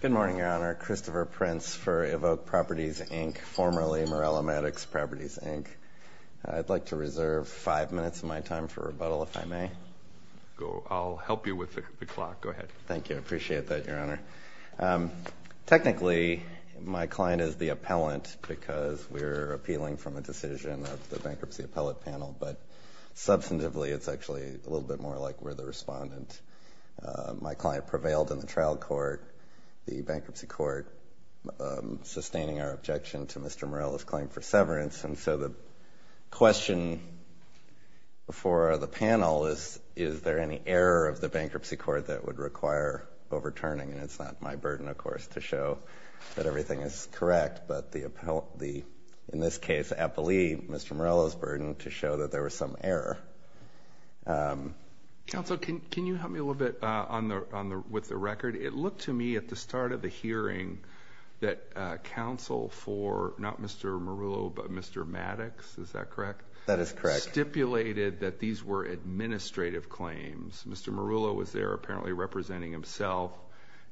Good morning, Your Honor. Christopher Prince for EVOQ Properties, Inc., formerly Meruelo Maddox Properties, Inc. I'd like to reserve five minutes of my time for rebuttal, if I may. I'll help you with the clock. Go ahead. Thank you. I appreciate that, Your Honor. Technically, my client is the appellant because we're appealing from a decision of the Bankruptcy Appellate Panel, but substantively, it's actually a little bit more like we're the respondent. My client prevailed in the trial court, the Bankruptcy Court, sustaining our objection to Mr. Meruelo's claim for severance. And so the question for the panel is, is there any error of the Bankruptcy Court that would require overturning? And it's not my burden, of course, to show that everything is correct. But in this case, I believe Mr. Meruelo's error. Counsel, can you help me a little bit with the record? It looked to me at the start of the hearing that counsel for, not Mr. Meruelo, but Mr. Maddox, is that correct? That is correct. Stipulated that these were administrative claims. Mr. Meruelo was there apparently representing himself,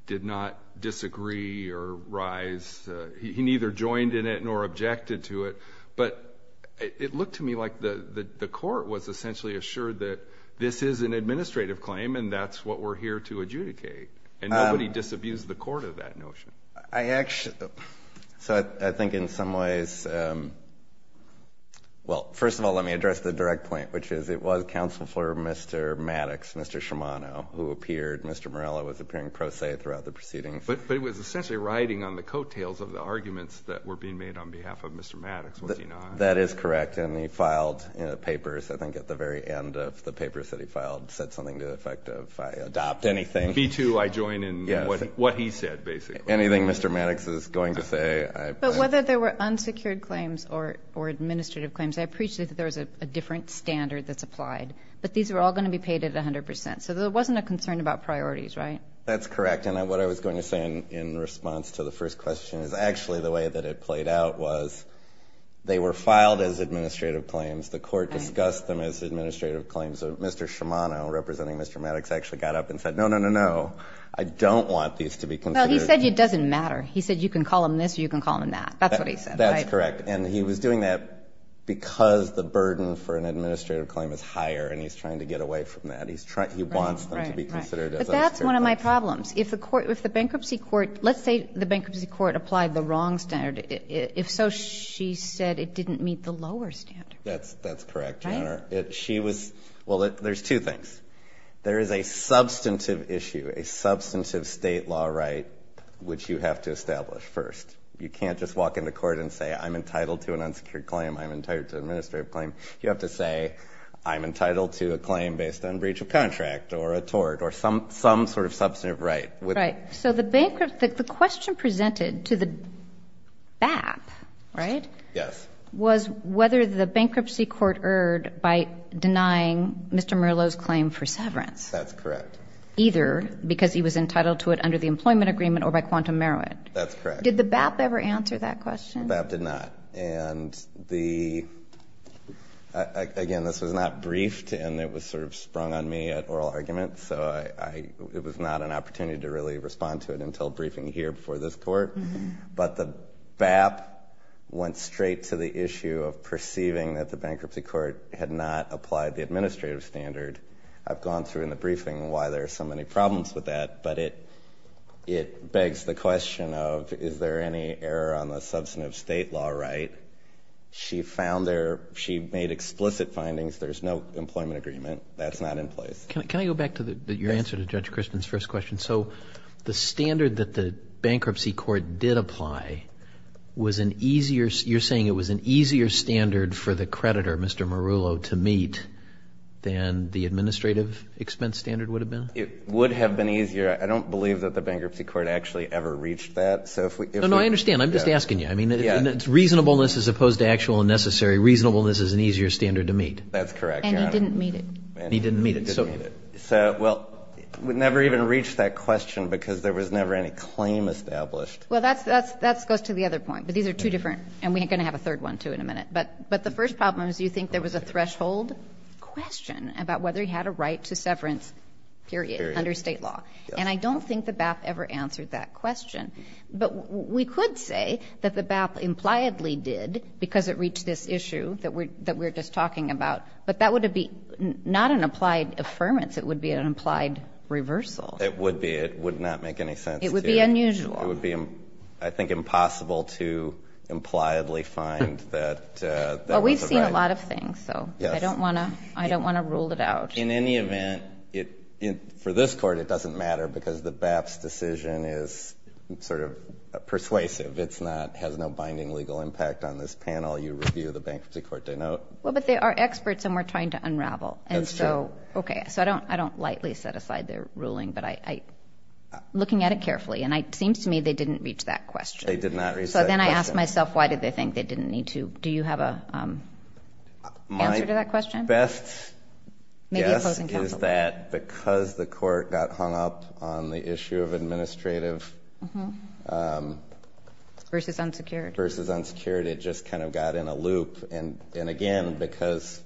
did not disagree or rise. He neither joined in it nor objected to it. But it looked to me like the court was essentially assured that this is an administrative claim and that's what we're here to adjudicate. And nobody disabused the court of that notion. So I think in some ways, well, first of all, let me address the direct point, which is it was counsel for Mr. Maddox, Mr. Shimano, who appeared, Mr. Meruelo was appearing pro se throughout the proceedings. But it was essentially riding on the coattails of the arguments that were being made on behalf of Mr. Maddox, was he not? That is correct. And he filed papers, I think at the very end of the papers that he filed, said something to the effect of, I adopt anything. Me too, I join in what he said, basically. Anything Mr. Maddox is going to say, I. But whether there were unsecured claims or administrative claims, I appreciate that there was a different standard that's applied. But these are all going to be paid at 100%. So there wasn't a concern about priorities, right? That's correct. And what I was going to say in response to the first question is actually the way that it played out was they were filed as administrative claims. The court discussed them as administrative claims. Mr. Shimano, representing Mr. Maddox, actually got up and said, no, no, no, no, I don't want these to be considered. Well, he said it doesn't matter. He said you can call them this or you can call them that. That's what he said, right? That's correct. And he was doing that because the burden for an administrative claim is higher and he's trying to get away from that. He wants them to be considered as unsecured claims. Right, right. But that's one of my problems. If the court, if the bankruptcy court, let's say the bankruptcy court applied the wrong standard. If so, she said it didn't meet the lower standard. That's correct, Your Honor. She was, well, there's two things. There is a substantive issue, a substantive state law right, which you have to establish first. You can't just walk into court and say, I'm entitled to an unsecured claim. I'm entitled to an administrative claim. You have to say, I'm entitled to a claim based on breach of contract or a tort or some sort of substantive right. Right. So the question presented to the BAP, right, was whether the bankruptcy court erred by denying Mr. Merlo's claim for severance. That's correct. Either because he was entitled to it under the employment agreement or by quantum merit. That's correct. Did the BAP ever answer that question? BAP did not. And again, this was not briefed and it was sort of sprung on me at oral arguments, so it was not an opportunity to really respond to it until briefing here before this court. But the BAP went straight to the issue of perceiving that the bankruptcy court had not applied the administrative standard. I've gone through in the briefing why there are so many problems with that, but it begs the question of, is there any error on the substantive state law right? She found there, she made explicit findings. There's no employment agreement. That's not in place. Can I go back to your answer to Judge Crispin's first question? So the standard that the bankruptcy court did apply was an easier, you're saying it was an easier standard for the creditor, Mr. Merlo, to meet than the administrative expense standard would have been? It would have been easier. I don't believe that the bankruptcy court actually ever reached that. So if we... No, no, I understand. I'm just asking you. I mean, it's reasonableness as opposed to actual and necessary reasonableness is an easier standard to meet. That's correct, Your Honor. And he didn't meet it. And he didn't meet it. So, well, we never even reached that question because there was never any claim established. Well, that goes to the other point, but these are two different, and we're going to have a third one too in a minute. But the first problem is you think there was a threshold question about whether he had a right to severance, period, under state law. And I don't think the BAP ever answered that question. But we could say that the BAP impliedly did because it reached this issue that we're just talking about. But that would be not an applied affirmance. It would be an implied reversal. It would be. It would not make any sense to... It would be unusual. It would be, I think, impossible to impliedly find that... Well, we've seen a lot of things, so I don't want to rule it out. In any event, for this court, it doesn't matter because the BAP's decision is sort of persuasive. It has no binding legal impact on this panel. You review the Bankruptcy Court, they know it. Well, but they are experts and we're trying to unravel. That's true. And so, okay. So I don't lightly set aside their ruling, but looking at it carefully, and it seems to me they didn't reach that question. They did not reach that question. So then I ask myself, why did they think they didn't need to? Do you have an answer to that question? My best guess is that because the court got hung up on the issue of administrative... Versus unsecured. Versus unsecured, it just kind of got in a loop. And again, because...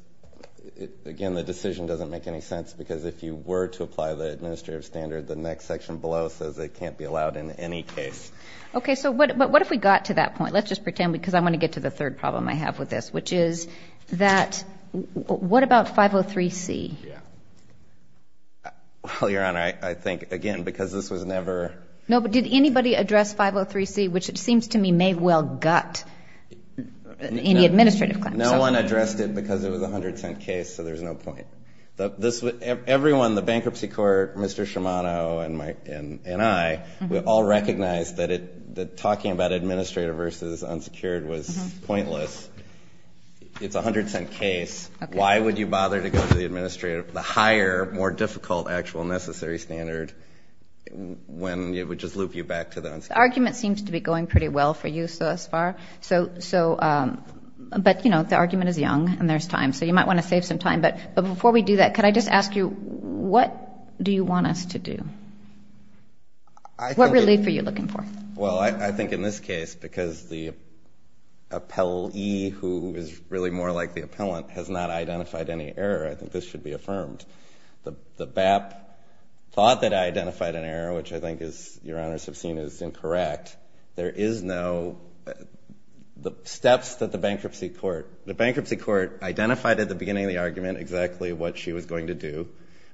Again, the decision doesn't make any sense because if you were to apply the administrative standard, the next section below says it can't be allowed in any case. Okay. So what if we got to that point? Let's just pretend, because I want to get to the third problem I have with this, which is that... What about 503C? Yeah. Well, Your Honor, I think, again, because this was never... No, but did anybody address 503C, which it got in the administrative claim? No one addressed it because it was a $0.10 case, so there's no point. Everyone, the bankruptcy court, Mr. Shimano and I, we all recognized that talking about administrative versus unsecured was pointless. It's a $0.10 case. Why would you bother to go to the administrative, the higher, more difficult, actual necessary standard when it would just loop you back to the unsecured? The argument seems to be going pretty well for you thus far, but the argument is young and there's time, so you might want to save some time, but before we do that, could I just ask you, what do you want us to do? What relief are you looking for? Well, I think in this case, because the appellee who is really more like the appellant has not identified any error, I think this should be affirmed. The BAP thought that I identified an error, which I think is, Your Honors have seen, is incorrect. There is no, the steps that the bankruptcy court, the bankruptcy court identified at the beginning of the argument exactly what she was going to do,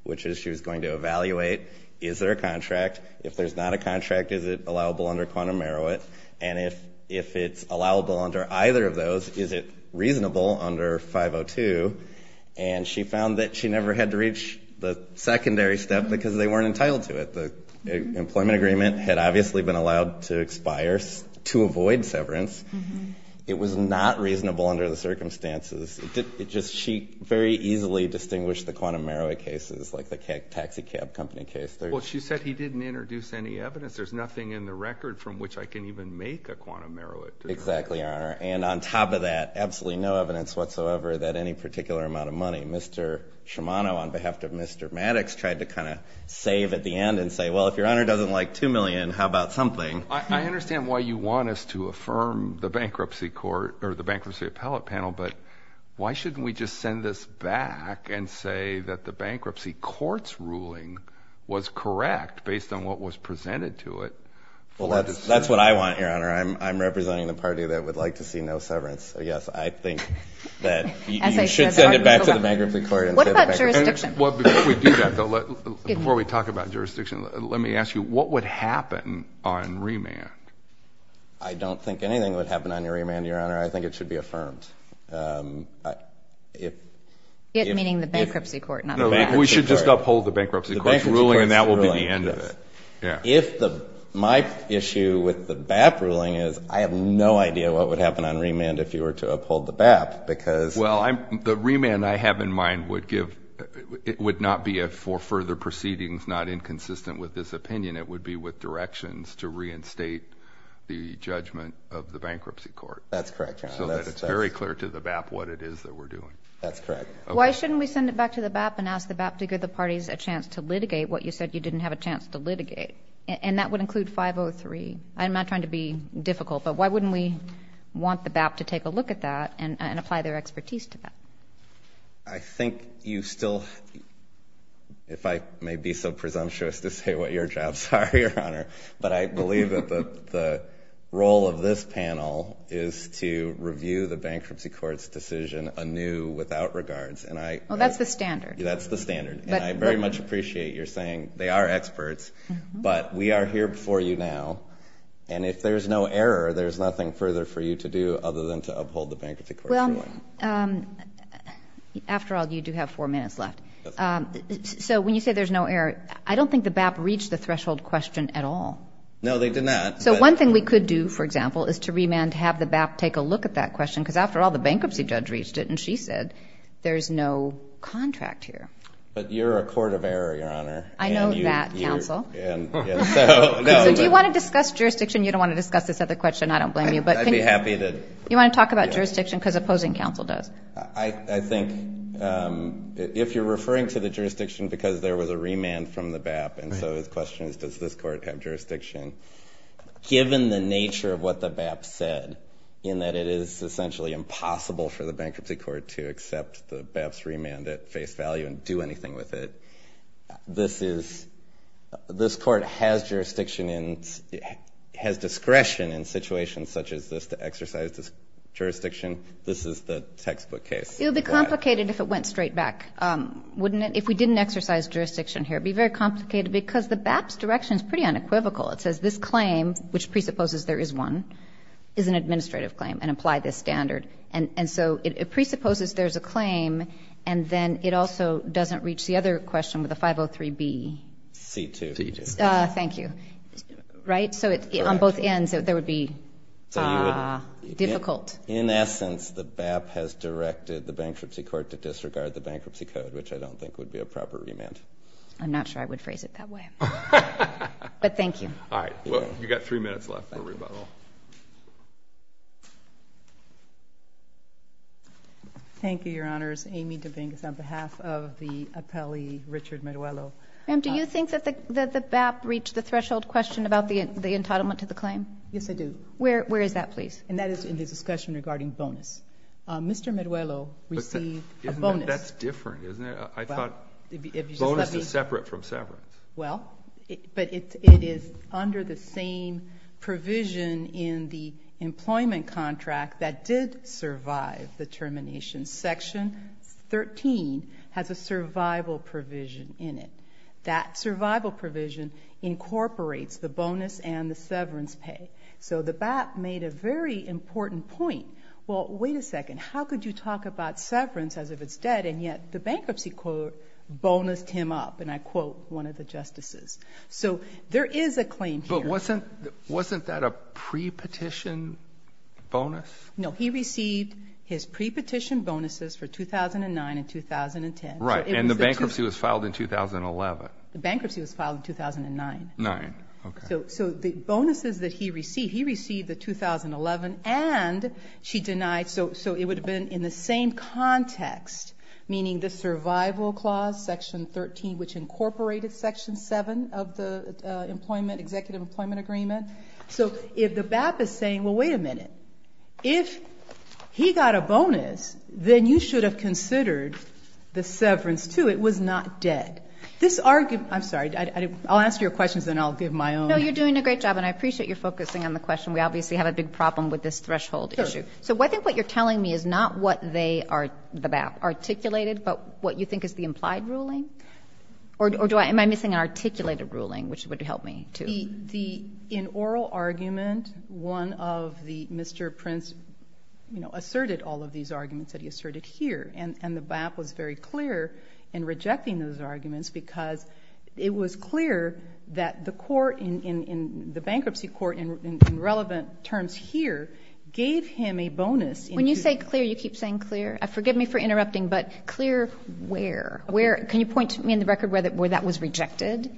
which is she was going to evaluate, is there a contract? If there's not a contract, is it allowable under quantum merit? And if it's allowable under either of those, is it reasonable under 502? And she found that she never had to reach the secondary step because they weren't entitled to it. The employment agreement had obviously been allowed to expire to avoid severance. It was not reasonable under the circumstances. It just, she very easily distinguished the quantum merit cases like the taxi cab company case. Well, she said he didn't introduce any evidence. There's nothing in the record from which I can even make a quantum merit. Exactly, Your Honor. And on top of that, absolutely no evidence whatsoever that any particular amount of money, Mr. Shimano on behalf of Mr. Maddox tried to kind of save at the end and say, well, if Your Honor doesn't like two million, how about something? I understand why you want us to affirm the bankruptcy court or the bankruptcy appellate panel, but why shouldn't we just send this back and say that the bankruptcy court's ruling was correct based on what was presented to it? Well, that's what I want, Your Honor. I'm representing the party that would like to see no severance. So yes, I think that you should send it back to the bankruptcy court and say the bankruptcy court was correct. What about jurisdiction? Before we do that, though, before we talk about jurisdiction, let me ask you, what would happen on remand? I don't think anything would happen on your remand, Your Honor. I think it should be affirmed. It meaning the bankruptcy court, not the bankruptcy court. We should just uphold the bankruptcy court's ruling and that will be the end of it. If the, my issue with the BAP ruling is I have no idea what would happen on remand if you were to uphold the BAP because... Well, the remand I have in mind would give, it would not be for further proceedings not inconsistent with this opinion. It would be with directions to reinstate the judgment of the bankruptcy court. That's correct, Your Honor. So that it's very clear to the BAP what it is that we're doing. That's correct. Why shouldn't we send it back to the BAP and ask the BAP to give the parties a chance to litigate what you said you didn't have a chance to litigate? And that would include 503. I'm I think you still, if I may be so presumptuous to say what your jobs are, Your Honor, but I believe that the, the role of this panel is to review the bankruptcy court's decision anew without regards and I... Well, that's the standard. That's the standard. And I very much appreciate your saying they are experts, but we are here before you now and if there's no error, there's nothing further for you to do other than to uphold the bankruptcy court's ruling. Well, after all, you do have four minutes left. So when you say there's no error, I don't think the BAP reached the threshold question at all. No, they did not. So one thing we could do, for example, is to remand to have the BAP take a look at that question because after all, the bankruptcy judge reached it and she said there's no contract here. But you're a court of error, Your Honor. I know that, counsel. So do you want to discuss jurisdiction? You don't want to discuss this with a question, I don't blame you, but... I'd be happy to. You want to talk about jurisdiction because opposing counsel does. I think if you're referring to the jurisdiction because there was a remand from the BAP and so the question is, does this court have jurisdiction? Given the nature of what the BAP said in that it is essentially impossible for the bankruptcy court to accept the BAP's remand at face value and do anything with it, this is, this court has jurisdiction in, has discretion in situations such as this to exercise this jurisdiction. This is the textbook case. It would be complicated if it went straight back, wouldn't it? If we didn't exercise jurisdiction here, it would be very complicated because the BAP's direction is pretty unequivocal. It says this claim, which presupposes there is one, is an administrative claim and apply this standard. And so it presupposes there's a claim and then it also doesn't reach the other question with a 503B. C2. Thank you. Right? So on both ends, there would be difficult. In essence, the BAP has directed the bankruptcy court to disregard the bankruptcy code, which I don't think would be a proper remand. I'm not sure I would phrase it that way. But thank you. All right. Well, you've got three minutes left for rebuttal. Thank you, Your Honors. Amy Dominguez on behalf of the appellee Richard Meruelo. Ma'am, do you think that the BAP reached the threshold question about the entitlement to the claim? Yes, I do. Where is that, please? And that is in the discussion regarding bonus. Mr. Meruelo received a bonus. That's different, isn't it? I thought bonus is separate from severance. Well, but it is under the same provision in the employment contract that did survive the bankruptcy. That survival provision incorporates the bonus and the severance pay. So the BAP made a very important point. Well, wait a second. How could you talk about severance as if it's dead, and yet the bankruptcy court bonused him up? And I quote one of the justices. So there is a claim here. But wasn't that a pre-petition bonus? No, he received his pre-petition bonuses for 2009 and 2010. Right, and the bankruptcy was filed in 2011. The bankruptcy was filed in 2009. So the bonuses that he received, he received the 2011 and she denied. So it would have been in the same context, meaning the survival clause, section 13, which incorporated section 7 of the executive employment agreement. So if the BAP is saying, well, wait a minute. If he got a bonus, then you should have considered the severance too. It was not dead. This argument, I'm sorry. I'll ask your questions, then I'll give my own. No, you're doing a great job, and I appreciate you're focusing on the question. We obviously have a big problem with this threshold issue. So I think what you're telling me is not what they are, the BAP, articulated, but what you think is the implied ruling? Or am I missing an articulated ruling, which would help me too? The in oral argument, one of the, Mr. Prince, you know, asserted all of these arguments that he asserted here. And the BAP was very clear in rejecting those arguments because it was clear that the court, in the bankruptcy court in relevant terms here, gave him a bonus. When you say clear, you keep saying clear. Forgive me for interrupting, but clear where? Can you point to me in the record where that was rejected?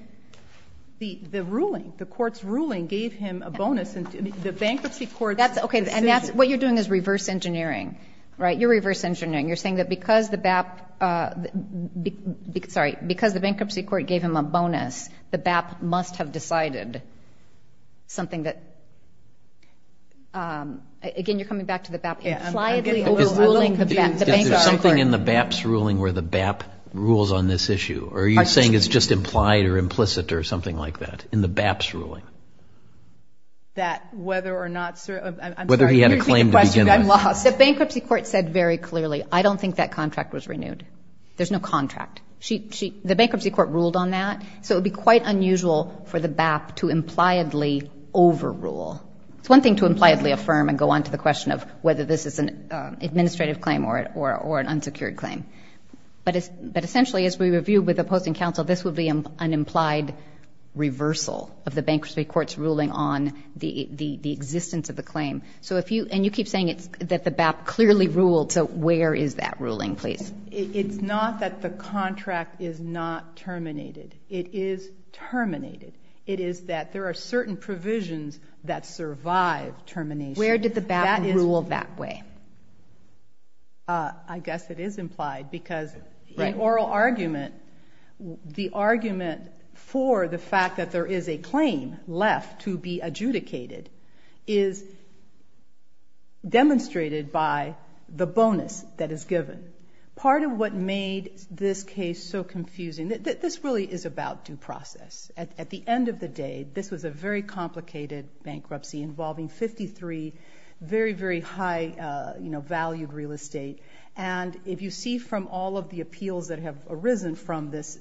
The ruling, the court's ruling gave him a bonus. The bankruptcy court... Okay, and that's, what you're doing is reverse engineering, right? You're reverse engineering. You're saying that because the BAP, sorry, because the bankruptcy court gave him a bonus, the BAP must have decided something that, again, you're coming back to the BAP, impliedly overruling the bankruptcy court. I'm a little confused. Is there something in the BAP's ruling where the BAP rules on this issue? Or are you saying it's just implied or implicit or something like that in the BAP's ruling? That whether or not, I'm sorry, you're taking the question, I'm lost. The bankruptcy court said very clearly, I don't think that contract was renewed. There's no contract. The bankruptcy court ruled on that. So it would be quite unusual for the BAP to impliedly overrule. It's one thing to impliedly affirm and go on to the question of whether this is an administrative claim or an unsecured claim. But essentially, as we reviewed with the Posting Council, this would be an implied reversal of the bankruptcy court's ruling on the existence of the claim. So if you, and you keep saying it's, that the BAP clearly ruled. So where is that ruling, please? It's not that the contract is not terminated. It is terminated. It is that there are certain provisions that survive termination. Where did the BAP rule that way? I guess it is implied because the oral argument, the argument for the fact that there is a claim left to be adjudicated is demonstrated by the bonus that is given. Part of what made this case so confusing, this really is about due process. At the end of the day, this was a very complicated bankruptcy involving 53 very, very high-valued real estate. And if you see from all of the appeals that have arisen from this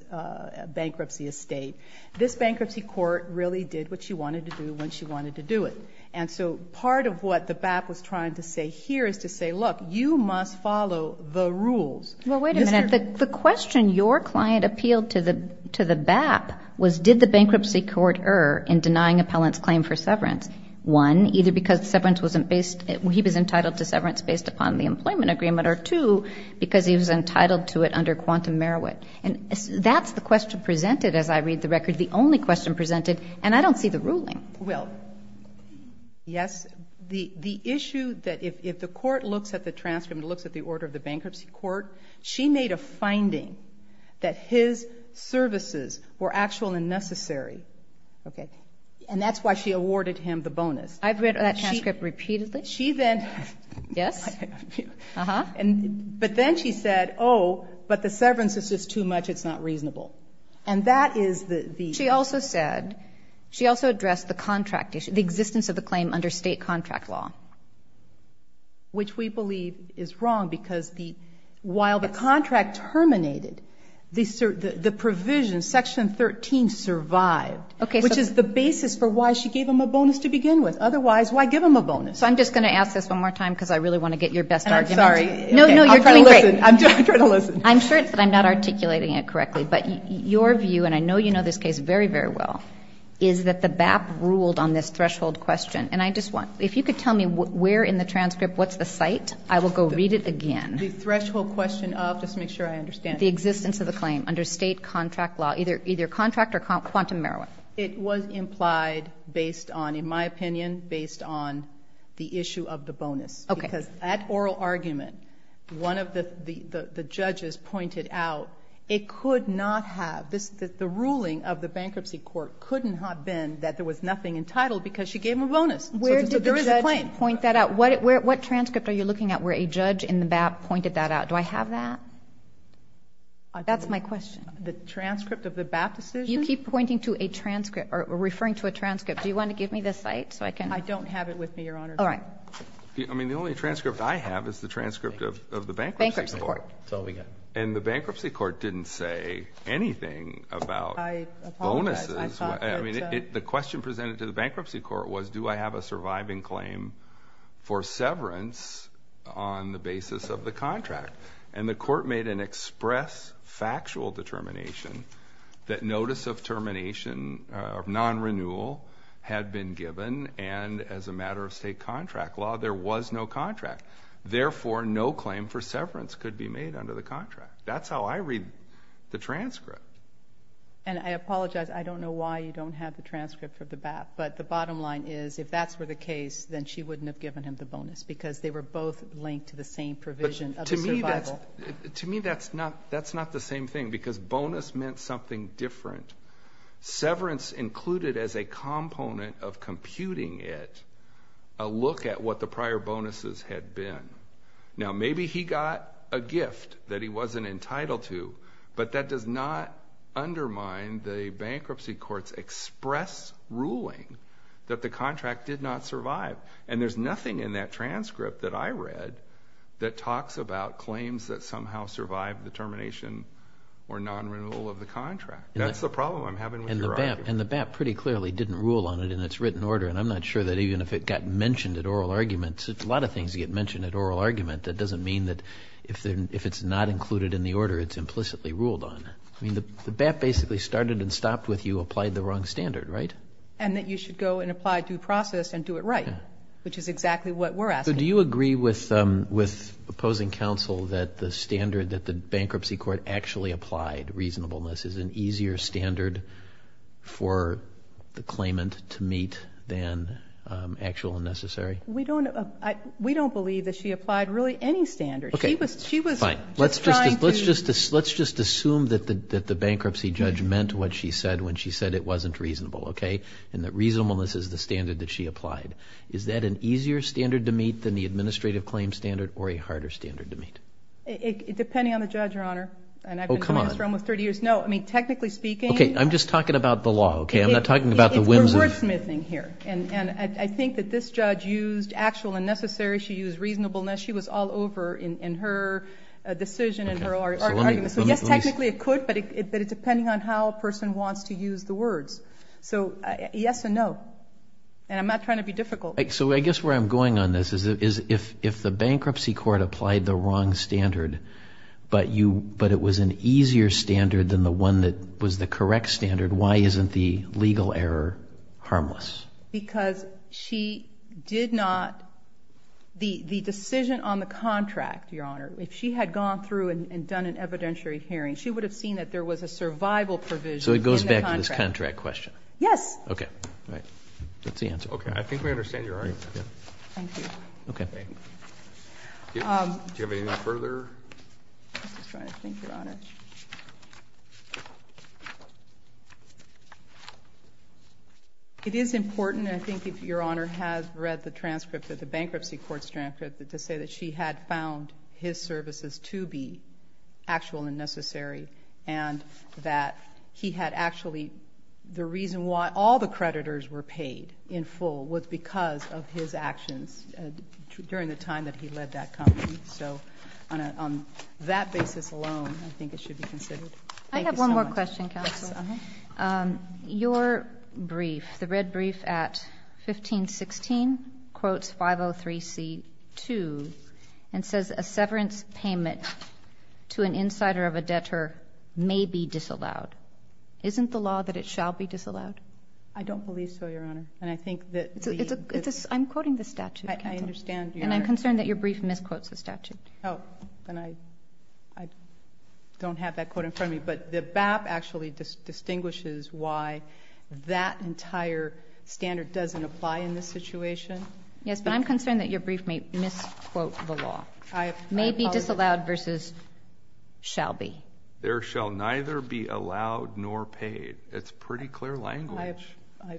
bankruptcy estate, this bankruptcy court really did what she wanted to do when she wanted to do it. And so part of what the BAP was trying to say here is to say, look, you must follow the rules. Well, wait a minute. The question your client appealed to the BAP was, did the bankruptcy court err in denying appellant's claim for severance? One, either because severance wasn't based, he was entitled to severance based upon the employment agreement, or two, because he was entitled to it under quantum merit. And that's the question presented as I read the record, the only question presented, and I don't see the ruling. Well, yes. The issue that if the court looks at the transcript, looks at the order of the And that's why she awarded him the bonus. I've read that transcript repeatedly. She then... Yes. But then she said, oh, but the severance is just too much, it's not reasonable. And that is the... She also said, she also addressed the contract issue, the existence of the claim under state contract law. Which we believe is wrong because the, while the contract terminated, the provision, section 13 survived. Okay, so... Which is the basis for why she gave him a bonus to begin with. Otherwise, why give him a bonus? So I'm just going to ask this one more time because I really want to get your best argument. I'm sorry. No, no, you're doing great. I'm trying to listen. I'm sure it's that I'm not articulating it correctly, but your view, and I know you know this case very, very well, is that the BAP ruled on this threshold question. And I just want, if you could tell me where in the transcript, what's the site, I will go read it again. The threshold question of, just to make sure I understand. The existence of the claim under state contract law, either contract or quantum marijuana. It was implied based on, in my opinion, based on the issue of the bonus. Okay. Because that oral argument, one of the judges pointed out, it could not have, the ruling of the bankruptcy court couldn't have been that there was nothing entitled because she gave him a bonus. So there is a claim. Where did the judge point that out? What transcript are you looking at where a judge in the BAP pointed that out? Do I have that? That's my question. The transcript of the BAP decision? You keep pointing to a transcript, or referring to a transcript. Do you want to give me the site so I can? I don't have it with me, Your Honor. All right. I mean, the only transcript I have is the transcript of the bankruptcy court. Bankruptcy court. That's all we got. And the bankruptcy court didn't say anything about bonuses. I apologize. I mean, the question presented to the bankruptcy court was, do I have a surviving claim for contract. And the court made an express, factual determination that notice of termination of non-renewal had been given, and as a matter of state contract law, there was no contract. Therefore, no claim for severance could be made under the contract. That's how I read the transcript. And I apologize. I don't know why you don't have the transcript of the BAP. But the bottom line is, if that's were the case, then she wouldn't have given him the same provision of survival. But to me, that's not the same thing, because bonus meant something different. Severance included as a component of computing it a look at what the prior bonuses had been. Now maybe he got a gift that he wasn't entitled to, but that does not undermine the bankruptcy court's express ruling that the contract did not survive. And there's nothing in that transcript that I read that talks about claims that somehow survived the termination or non-renewal of the contract. That's the problem I'm having with your argument. And the BAP pretty clearly didn't rule on it in its written order, and I'm not sure that even if it got mentioned at oral arguments. A lot of things get mentioned at oral argument. That doesn't mean that if it's not included in the order, it's implicitly ruled on. I mean, the BAP basically started and stopped with you applied the wrong standard, right? And that you should go and apply due process and do it right, which is exactly what we're asking. So do you agree with opposing counsel that the standard that the bankruptcy court actually applied, reasonableness, is an easier standard for the claimant to meet than actual and necessary? We don't believe that she applied really any standard. Okay, fine. Let's just assume that the bankruptcy judge meant what she said when she said it wasn't reasonable, okay, and that reasonableness is the standard that she applied. Is that an easier standard to meet than the administrative claim standard or a harder standard to meet? Depending on the judge, Your Honor. Oh, come on. And I've been doing this for almost 30 years. No, I mean, technically speaking. Okay, I'm just talking about the law, okay? I'm not talking about the whimsy. It's wordsmithing here. And I think that this judge used actual and necessary. She used reasonableness. She was all over in her decision and her arguments. So yes, technically it could, but it's depending on how a person wants to use the words. So yes and no. And I'm not trying to be difficult. So I guess where I'm going on this is if the bankruptcy court applied the wrong standard, but it was an easier standard than the one that was the correct standard, why isn't the legal error harmless? Because she did not, the decision on the contract, Your Honor, if she had gone through and done an evidentiary hearing, she would have seen that there was a survival provision in the contract. So it goes back to this contract question? Yes. Okay. All right. That's the answer. Okay. I think we understand your argument. Thank you. Okay. Do you have anything further? I'm just trying to think, Your Honor. It is important, I think, if Your Honor has read the transcript, to say that she had found his services to be actual and necessary and that he had actually, the reason why all the creditors were paid in full was because of his actions during the time that he led that company. So on that basis alone, I think it should be considered. Thank you so much. I have one more question, Counsel. Yes. Your brief, the red brief at 1516 quotes 503C2 and says a severance payment to an insider of a debtor may be disallowed. Isn't the law that it shall be disallowed? I don't believe so, Your Honor. And I think that the... I'm quoting the statute, Counsel. I understand, Your Honor. And I'm concerned that your brief misquotes the statute. Oh, then I don't have that quote in front of me. But the BAP actually distinguishes why that entire standard doesn't apply in this situation. Yes, but I'm concerned that your brief may misquote the law. May be disallowed versus shall be. There shall neither be allowed nor paid. It's pretty clear language.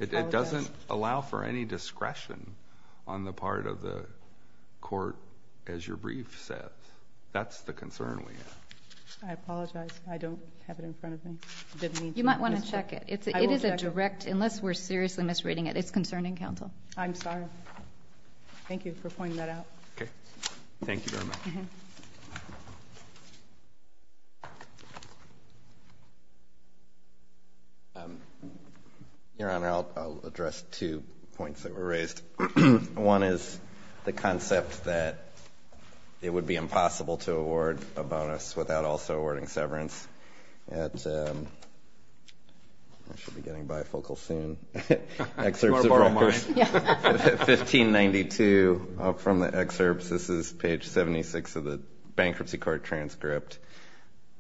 It doesn't allow for any discretion on the part of the court, as your brief said. That's the concern we have. I apologize. I don't have it in front of me. You might want to check it. It is a direct... I will check it. Unless we're seriously misreading it, it's concerning, Counsel. I'm sorry. Thank you for pointing that out. Okay. Thank you very much. Your Honor, I'll address two points that were raised. One is the concept that it would be impossible to award a bonus without also awarding severance. I should be getting bifocal soon. Excerpts of records. 1592, up from the excerpts. This is page 76 of the bankruptcy court transcript.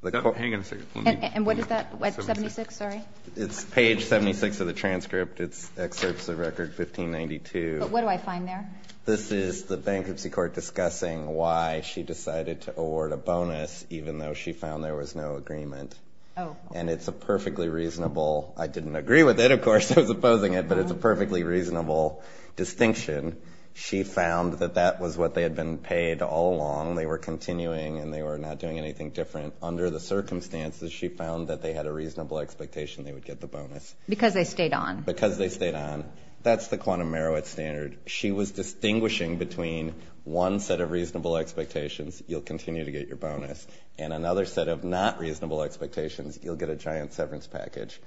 Hang on a second. And what is that? Page 76, sorry? It's page 76 of the transcript. It's excerpts of record 1592. But what do I find there? This is the bankruptcy court discussing why she decided to award a bonus, even though she found there was no agreement. Oh. And it's a perfectly reasonable... I didn't agree with it, of course. I was opposing it. But it's a perfectly reasonable distinction. She found that that was what they had been paid all along. They were continuing, and they were not doing anything different. Under the circumstances, she found that they had a reasonable expectation they would get the bonus. Because they stayed on. Because they stayed on. That's the quantum Marowitz standard. She was distinguishing between one set of reasonable expectations, you'll continue to get your bonus, and another set of not reasonable expectations, you'll get a giant severance package.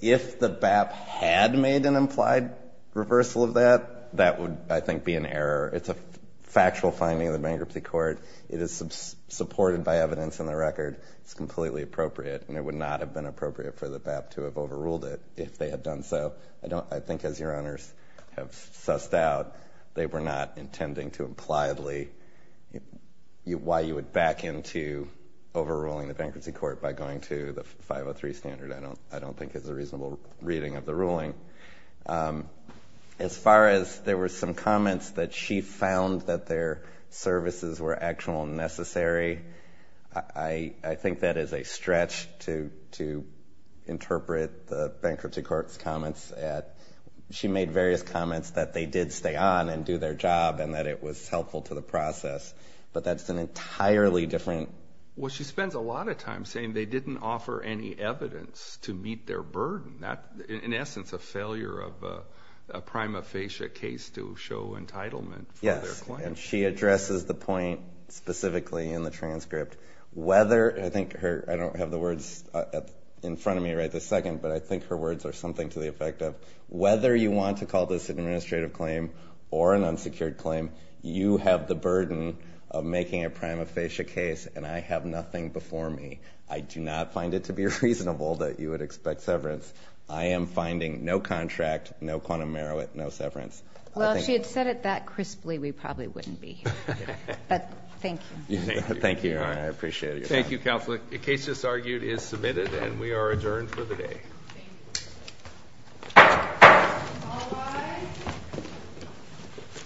If the BAP had made an implied reversal of that, that would, I think, be an error. It's a factual finding of the bankruptcy court. It is supported by evidence in the record. It's completely appropriate. And it would not have been appropriate for the BAP to have overruled it if they had done so. I think as your Honors have sussed out, they were not intending to impliedly why you would back into overruling the bankruptcy court by going to the 503 standard I don't think is a reasonable reading of the ruling. As far as there were some comments that she found that their services were actually necessary, I think that is a stretch to interpret the bankruptcy court's comments. She made various comments that they did stay on and do their job and that it was helpful to the process. But that's an entirely different. Well, she spends a lot of time saying they didn't offer any evidence to meet their burden. In essence, a failure of a prima facie case to show entitlement for their claim. And she addresses the point specifically in the transcript. I don't have the words in front of me right this second, but I think her words are something to the effect of whether you want to call this an administrative claim or an unsecured claim, you have the burden of making a prima facie case, and I have nothing before me. I do not find it to be reasonable that you would expect severance. I am finding no contract, no quantum merit, no severance. Well, if she had said it that crisply, we probably wouldn't be here. But thank you. Thank you. I appreciate it. Thank you, Counselor. The case just argued is submitted, and we are adjourned for the day.